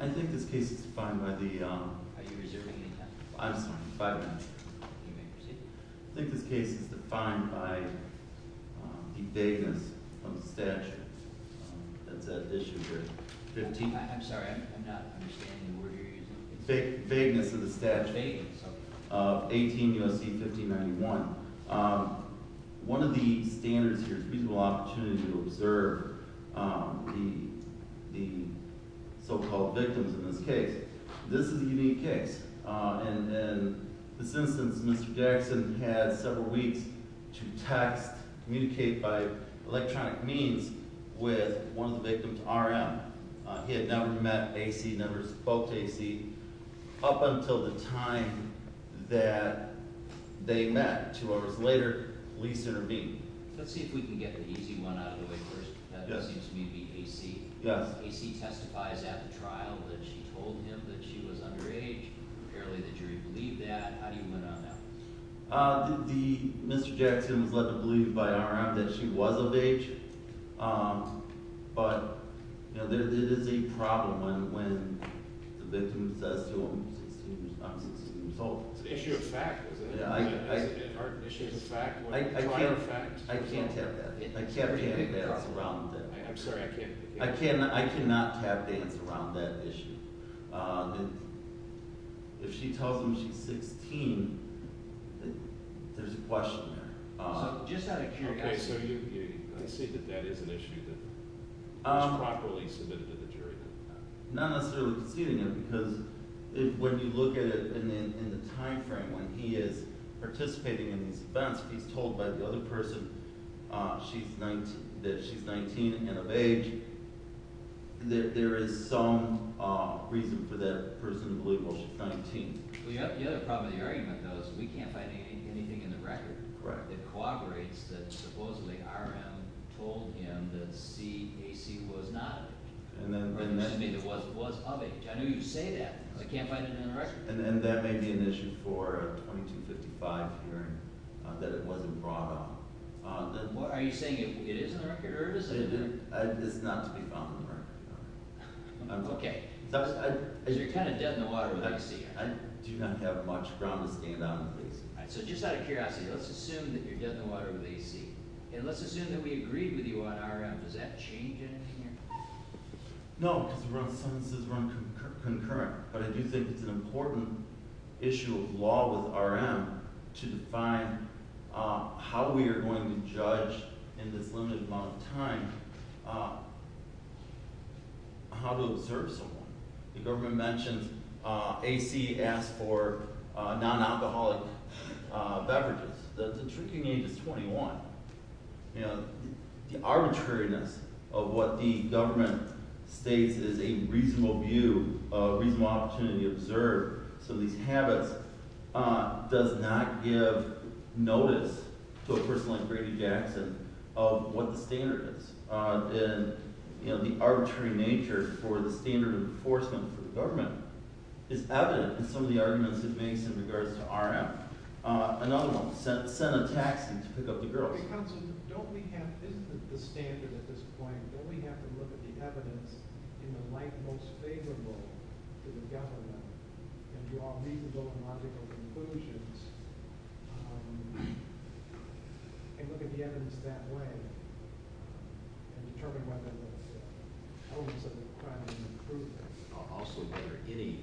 I think this case is defined by the vagueness of the statute of 18 U.S.C. 1591. One of the standards here is a reasonable opportunity to observe the so-called victims in this case. This is a unique case. In this instance, Mr. Jackson had several weeks to text, communicate by electronic means with one of the victims, R.M. He had never met A.C., never spoke to A.C. up until the time that they met two hours later, police intervened. Let's see if we can get the easy one out of the way first. That seems to me to be A.C. Yes. A.C. testifies at the trial that she told him that she was underage. Apparently the jury believed that. How do you went on that? Mr. Jackson was led to believe by R.M. that she was of age, but it is a problem when the victim says to him she's 16 years old. It's an issue of fact, isn't it? I can't tap dance around that. I cannot tap dance around that issue. If she tells him she's 16, there's a question there. Just out of curiosity… Okay, so you see that that is an issue that was properly submitted to the jury that time? Not necessarily conceding it, because when you look at it in the time frame when he is participating in these events, he's told by the other person that she's 19 and of age. There is some reason for that person to believe she's 19. The other problem with the argument, though, is we can't find anything in the record that corroborates that supposedly R.M. told him that A.C. was not… Or that A.C. was of age. I know you say that, but I can't find it in the record. And that may be an issue for a 2255 hearing, that it wasn't brought up. Are you saying it is in the record or it isn't? It's not to be found in the record. Okay. Because you're kind of dead in the water with A.C. I do not have much ground to stand on with A.C. So just out of curiosity, let's assume that you're dead in the water with A.C. And let's assume that we agreed with you on R.M. Does that change anything here? No, because the sentences run concurrent. But I do think it's an important issue of law with R.M. to define how we are going to judge in this limited amount of time how to observe someone. The government mentioned A.C. asked for non-alcoholic beverages. The drinking age is 21. The arbitrariness of what the government states is a reasonable view, a reasonable opportunity to observe some of these habits does not give notice to a person like Brady Jackson of what the standard is. The arbitrary nature for the standard of enforcement for the government is evident in some of the arguments it makes in regards to R.M. Another one, send a taxi to pick up the girls. Counsel, don't we have, isn't the standard at this point, don't we have to look at the evidence in the light most favorable to the government and draw reasonable and logical conclusions and look at the evidence that way? And determine whether the elements of the crime have been proven. Also, whether any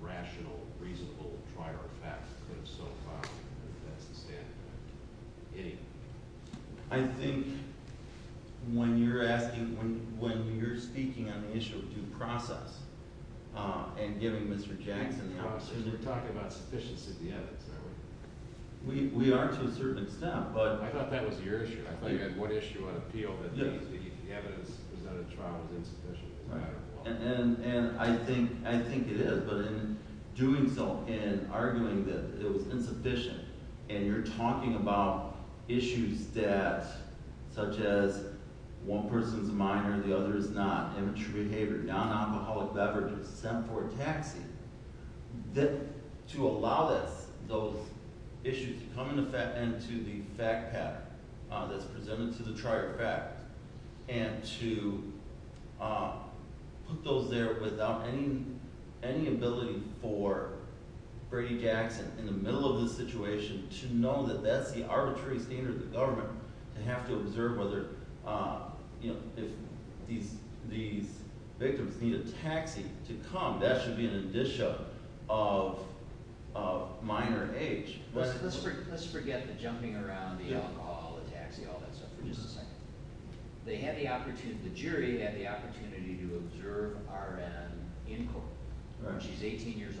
rational, reasonable, prior fact could have so found that that's the standard. Any? I think when you're asking, when you're speaking on the issue of due process and giving Mr. Jackson the opportunity We're talking about sufficiency of the evidence, aren't we? We are to a certain extent, but I thought that was your issue. I thought you had one issue on appeal that the evidence presented in the trial was insufficient. And I think it is, but in doing so, in arguing that it was insufficient, and you're talking about issues that, such as one person's a minor, the other is not, immature behavior, non-alcoholic beverages, send for a taxi, to allow those issues to come into the fact pattern that's presented to the prior fact, and to put those there without any ability for Brady Jackson, in the middle of the situation, to know that that's the arbitrary standard of the government, to have to observe whether, you know, if these victims need a taxi to come, that should be an addition of minor age. Let's forget the jumping around, the alcohol, the taxi, all that stuff for just a second. They had the opportunity, the jury had the opportunity to observe R.N. in court, when she's 18 years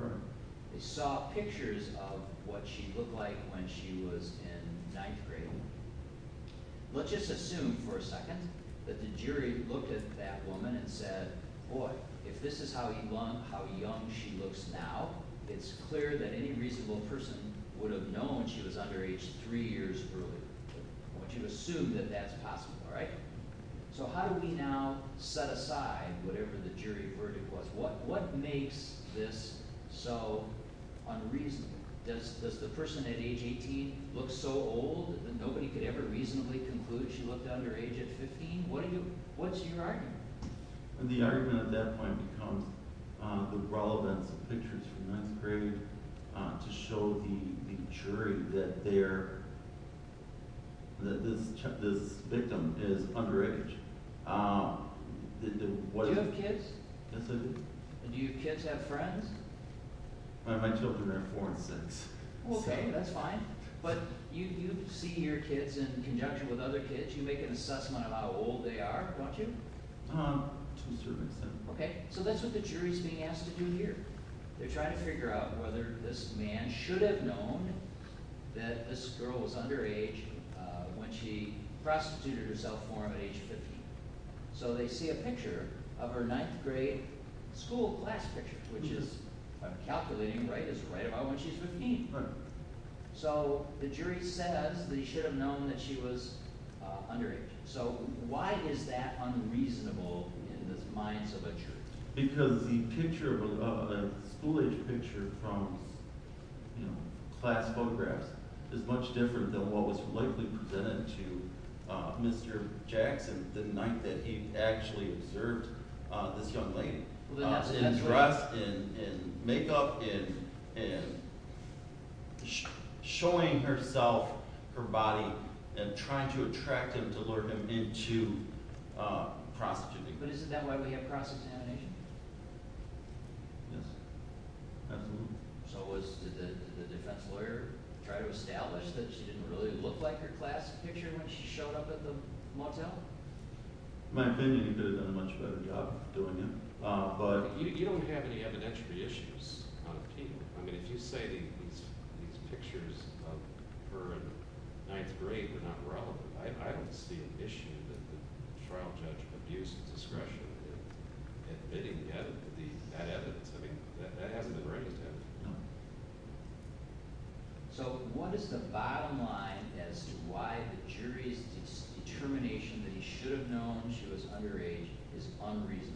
old. They saw pictures of what she looked like when she was in ninth grade. Let's just assume for a second that the jury looked at that woman and said, boy, if this is how young she looks now, it's clear that any reasonable person would have known she was under age three years earlier. I want you to assume that that's possible, all right? So how do we now set aside whatever the jury verdict was? What makes this so unreasonable? Does the person at age 18 look so old that nobody could ever reasonably conclude she looked under age 15? What's your argument? The argument at that point becomes the relevance of pictures from ninth grade to show the jury that this victim is under age. Do you have kids? Yes, I do. Do your kids have friends? My children are four and six. Okay, that's fine. But you see your kids in conjunction with other kids. You make an assessment of how old they are, don't you? To a certain extent. Okay, so that's what the jury's being asked to do here. They're trying to figure out whether this man should have known that this girl was under age when she prostituted herself for him at age 15. So they see a picture of her ninth grade school class picture, which is calculating right about when she's 15. Right. So the jury says that he should have known that she was under age. So why is that unreasonable in the minds of a jury? Because the school-age picture from class photographs is much different than what was likely presented to Mr. Jackson the night that he actually observed this young lady. In dress, in makeup, in showing herself, her body, and trying to attract him to lure him into prostituting her. But is it that way we have cross-examination? Yes, absolutely. So did the defense lawyer try to establish that she didn't really look like her class picture when she showed up at the motel? In my opinion, he could have done a much better job doing that. You don't have any evidentiary issues on appeal. I mean, if you say these pictures of her in ninth grade were not relevant, I don't see an issue that the trial judge abused discretion in bidding that evidence. I mean, that hasn't been raised yet. No. So what is the bottom line as to why the jury's determination that he should have known she was under age is unreasonable?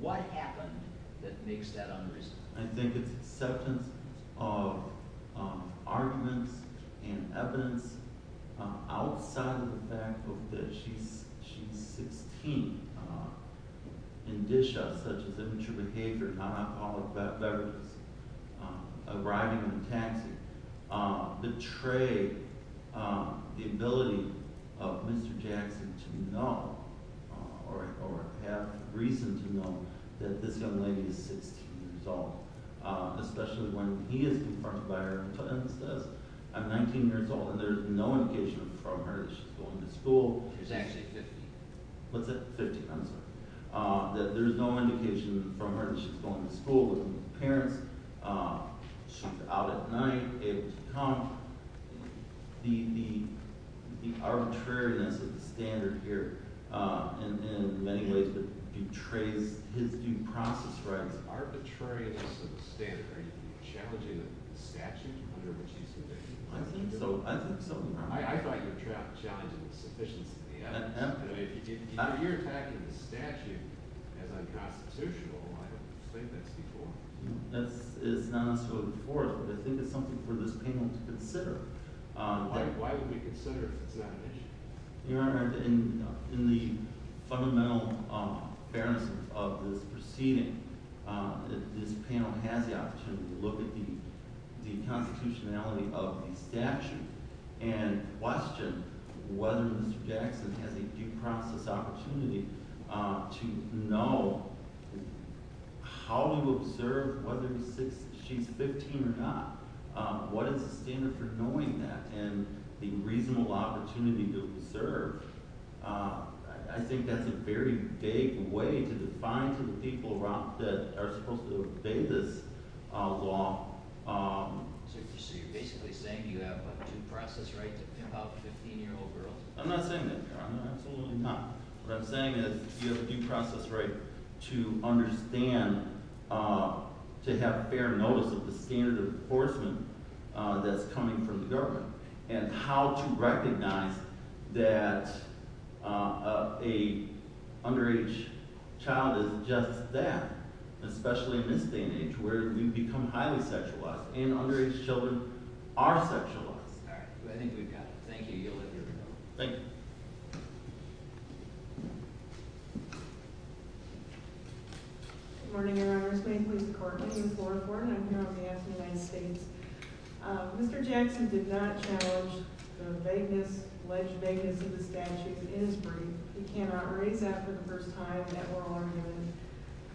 What happened that makes that unreasonable? I think it's acceptance of arguments and evidence outside of the fact that she's 16. And dish out such as immature behavior, non-alcoholic beverages, arriving in a taxi betray the ability of Mr. Jackson to know or have reason to know that this young lady is 16 years old. Especially when he is confronted by her and says, I'm 19 years old, and there's no indication from her that she's going to school. She's actually 15. What's that? 15. I'm sorry. That there's no indication from her that she's going to school with her parents. She's out at night, able to come. The arbitrariness of the standard here in many ways betrays his due process rights. Arbitrariness of the standard. Are you challenging the statute under which he's convicted? I think so. I think so. You're challenging the sufficiency of the evidence. If you're attacking the statute as unconstitutional, I don't think that's before. It's not unconstitutional before, but I think it's something for this panel to consider. Why would we consider if it's not an issue? Your Honor, in the fundamental fairness of this proceeding, this panel has the opportunity to look at the constitutionality of the statute and question whether Mr. Jackson has a due process opportunity to know how to observe whether she's 15 or not. What is the standard for knowing that and the reasonable opportunity to observe? I think that's a very vague way to define to the people that are supposed to obey this law. So you're basically saying you have a due process right to tip out 15-year-old girls? I'm not saying that, Your Honor. I'm absolutely not. What I'm saying is you have a due process right to understand, to have fair notice of the standard of enforcement that's coming from the government and how to recognize that an underage child is just that, especially in this day and age where you become highly sexualized. And underage children are sexualized. All right. I think we've got it. Thank you. Thank you. Good morning, Your Honor. This is Maine Police Department. This is Laura Thornton. I'm here on behalf of the United States. Mr. Jackson did not challenge the vagueness, alleged vagueness of the statute in his brief. He cannot raise that for the first time in that oral argument.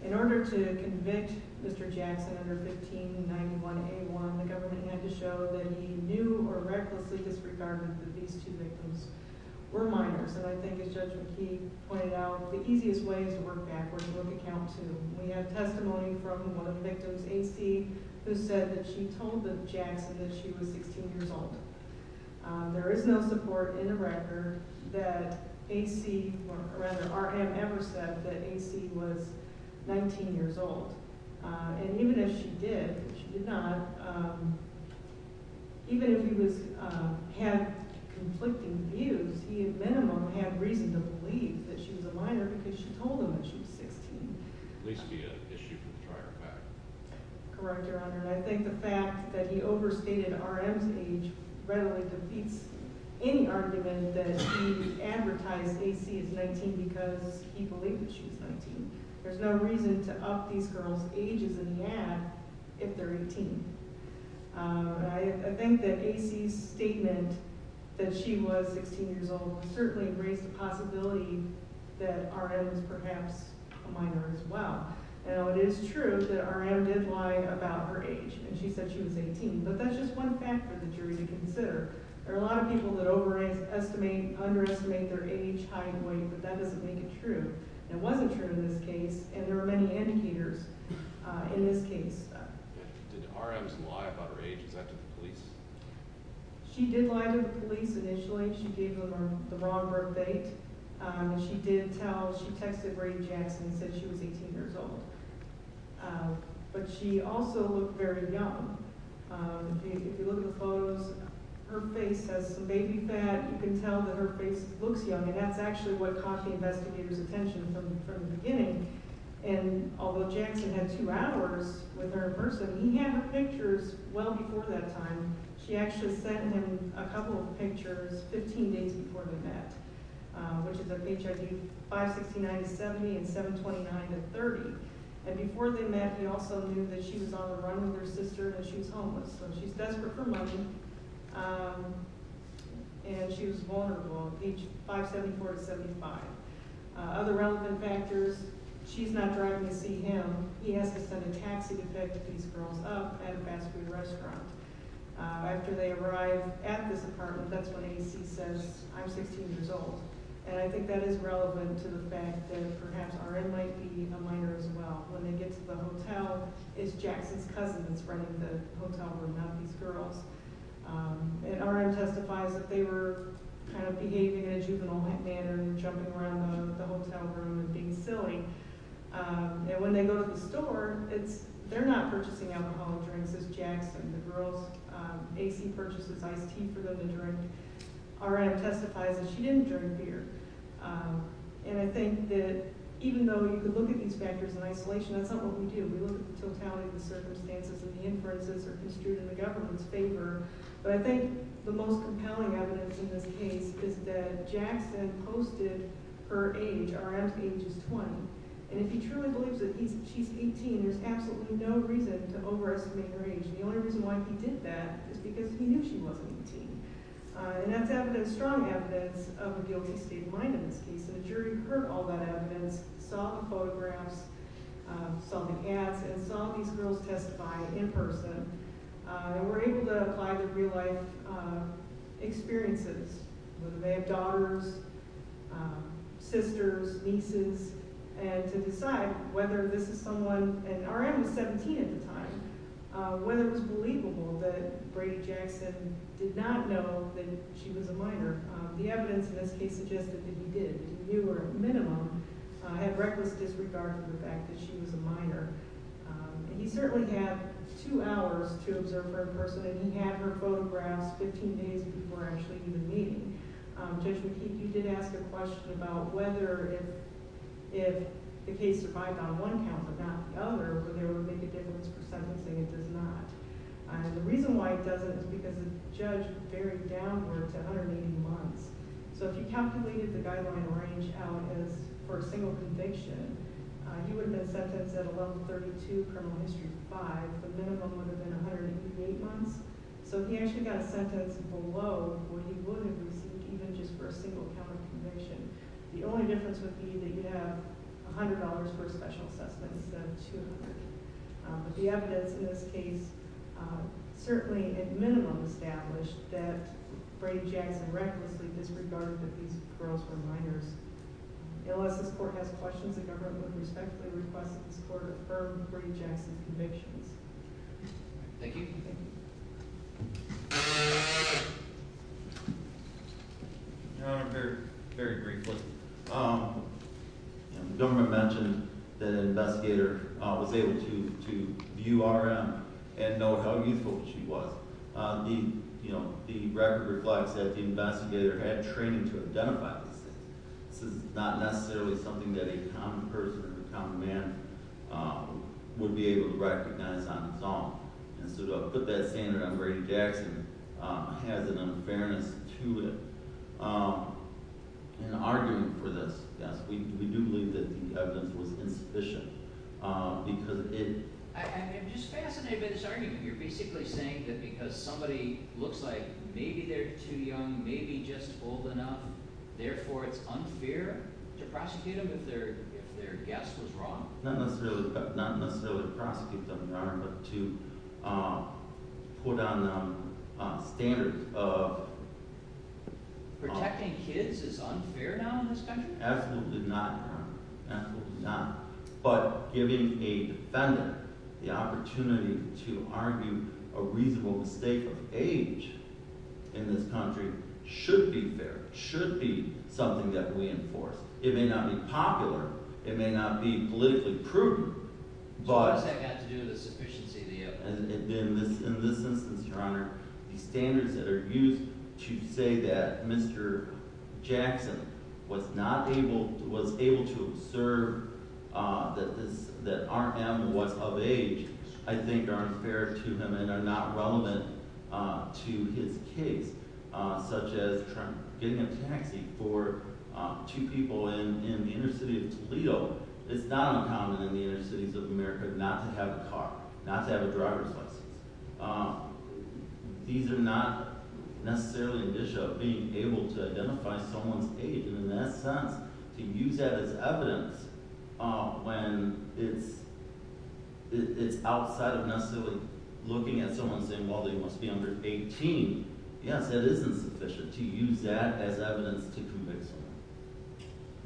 In order to convict Mr. Jackson under 1591A1, the government had to show that he knew or recklessly disregarded that these two victims were minors. And I think, as Judge McKee pointed out, the easiest way is to work backwards and look at count two. We have testimony from one of the victims, A.C., who said that she told Jackson that she was 16 years old. There is no support in the record that A.C. or, rather, R.M. ever said that A.C. was 19 years old. And even if she did, if she did not, even if he was – had conflicting views, he at minimum had reason to believe that she was a minor because she told him that she was 16. At least via issue from prior fact. Correct, Your Honor. And I think the fact that he overstated R.M.'s age readily defeats any argument that he advertised A.C. as 19 because he believed that she was 19. There's no reason to up these girls' ages in the ad if they're 18. I think that A.C.'s statement that she was 16 years old certainly raised the possibility that R.M. was perhaps a minor as well. Now, it is true that R.M. did lie about her age, and she said she was 18, but that's just one fact for the jury to consider. There are a lot of people that overestimate – underestimate their age, height, and weight, but that doesn't make it true. And it wasn't true in this case, and there are many indicators in this case. Did R.M.'s lie about her age? Is that to the police? She did lie to the police initially. She gave them the wrong birth date. She did tell – she texted Ray Jackson and said she was 18 years old, but she also looked very young. If you look at the photos, her face has some baby fat. You can tell that her face looks young, and that's actually what caught the investigators' attention from the beginning. And although Jackson had two hours with her in person, he had her pictures well before that time. She actually sent him a couple of pictures 15 days before they met. Which is of HIV 5, 69, and 70, and 7, 29, and 30. And before they met, he also knew that she was on the run with her sister, and she was homeless. So she's desperate for money, and she was vulnerable – 5, 74, and 75. Other relevant factors – she's not driving to see him. He has to send a taxi to pick these girls up at a fast food restaurant. After they arrive at this apartment, that's when A.C. says, I'm 16 years old. And I think that is relevant to the fact that perhaps R.M. might be a minor as well. When they get to the hotel, it's Jackson's cousins running the hotel room, not these girls. And R.M. testifies that they were kind of behaving in a juvenile manner, jumping around the hotel room and being silly. And when they go to the store, they're not purchasing alcohol or drinks. It's Jackson. The girls – A.C. purchases iced tea for them to drink. R.M. testifies that she didn't drink beer. And I think that even though you could look at these factors in isolation, that's not what we do. We look at the totality of the circumstances, and the inferences are construed in the government's favor. But I think the most compelling evidence in this case is that Jackson posted her age. R.M.'s age is 20. And if he truly believes that she's 18, there's absolutely no reason to overestimate her age. And the only reason why he did that is because he knew she wasn't 18. And that's evidence – strong evidence of a guilty state of mind in this case. And the jury heard all that evidence, saw the photographs, saw the ads, and saw these girls testify in person. And were able to apply the real-life experiences, whether they have daughters, sisters, nieces, and to decide whether this is someone – and R.M. was 17 at the time – whether it was believable that Brady Jackson did not know that she was a minor. The evidence in this case suggested that he did. He knew, or at minimum, had reckless disregard for the fact that she was a minor. And he certainly had two hours to observe her in person. And he had her photographs 15 days before actually even meeting. Judge McKeague, you did ask a question about whether if the case survived on one count but not the other, whether it would make a difference for sentencing. It does not. And the reason why it doesn't is because the judge varied downward to 180 months. So if you calculated the guideline range out as for a single conviction, he would have been sentenced at a level 32 criminal history 5. The minimum would have been 188 months. So if he actually got sentenced below what he would have received even just for a single count of conviction, the only difference would be that you'd have $100 for a special assessment instead of $200. But the evidence in this case certainly at minimum established that Brady Jackson recklessly disregarded that these girls were minors. Unless this court has questions, the government would respectfully request that this court affirm Brady Jackson's convictions. Thank you. Your Honor, very briefly. The government mentioned that an investigator was able to view RM and know how youthful she was. The record reflects that the investigator had training to identify these things. This is not necessarily something that a common person, a common man, would be able to recognize on its own. And so to put that standard on Brady Jackson has an unfairness to it. In arguing for this, yes, we do believe that the evidence was insufficient because it – I'm just fascinated by this argument. You're basically saying that because somebody looks like maybe they're too young, maybe just old enough, therefore it's unfair to prosecute them if their guess was wrong? Not necessarily prosecute them, Your Honor, but to put on standards of – Protecting kids is unfair now in this country? Absolutely not, Your Honor. Absolutely not. But giving a defendant the opportunity to argue a reasonable mistake of age in this country should be fair, should be something that we enforce. It may not be popular. It may not be politically prudent. So what does that have to do with the sufficiency of the evidence? In this instance, Your Honor, the standards that are used to say that Mr. Jackson was not able – was able to observe that our animal was of age I think are unfair to him and are not relevant to his case, such as getting a taxi for two people in the inner city of Toledo. It's not uncommon in the inner cities of America not to have a car, not to have a driver's license. These are not necessarily an issue of being able to identify someone's age. And in that sense, to use that as evidence when it's outside of necessarily looking at someone and saying, well, they must be under 18, yes, that is insufficient to use that as evidence to convict someone.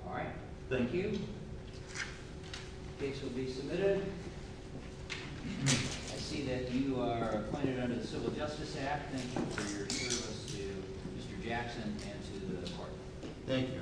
All right. Thank you. The case will be submitted. I see that you are appointed under the Civil Justice Act. Thank you for your service to Mr. Jackson and to the court. Thank you.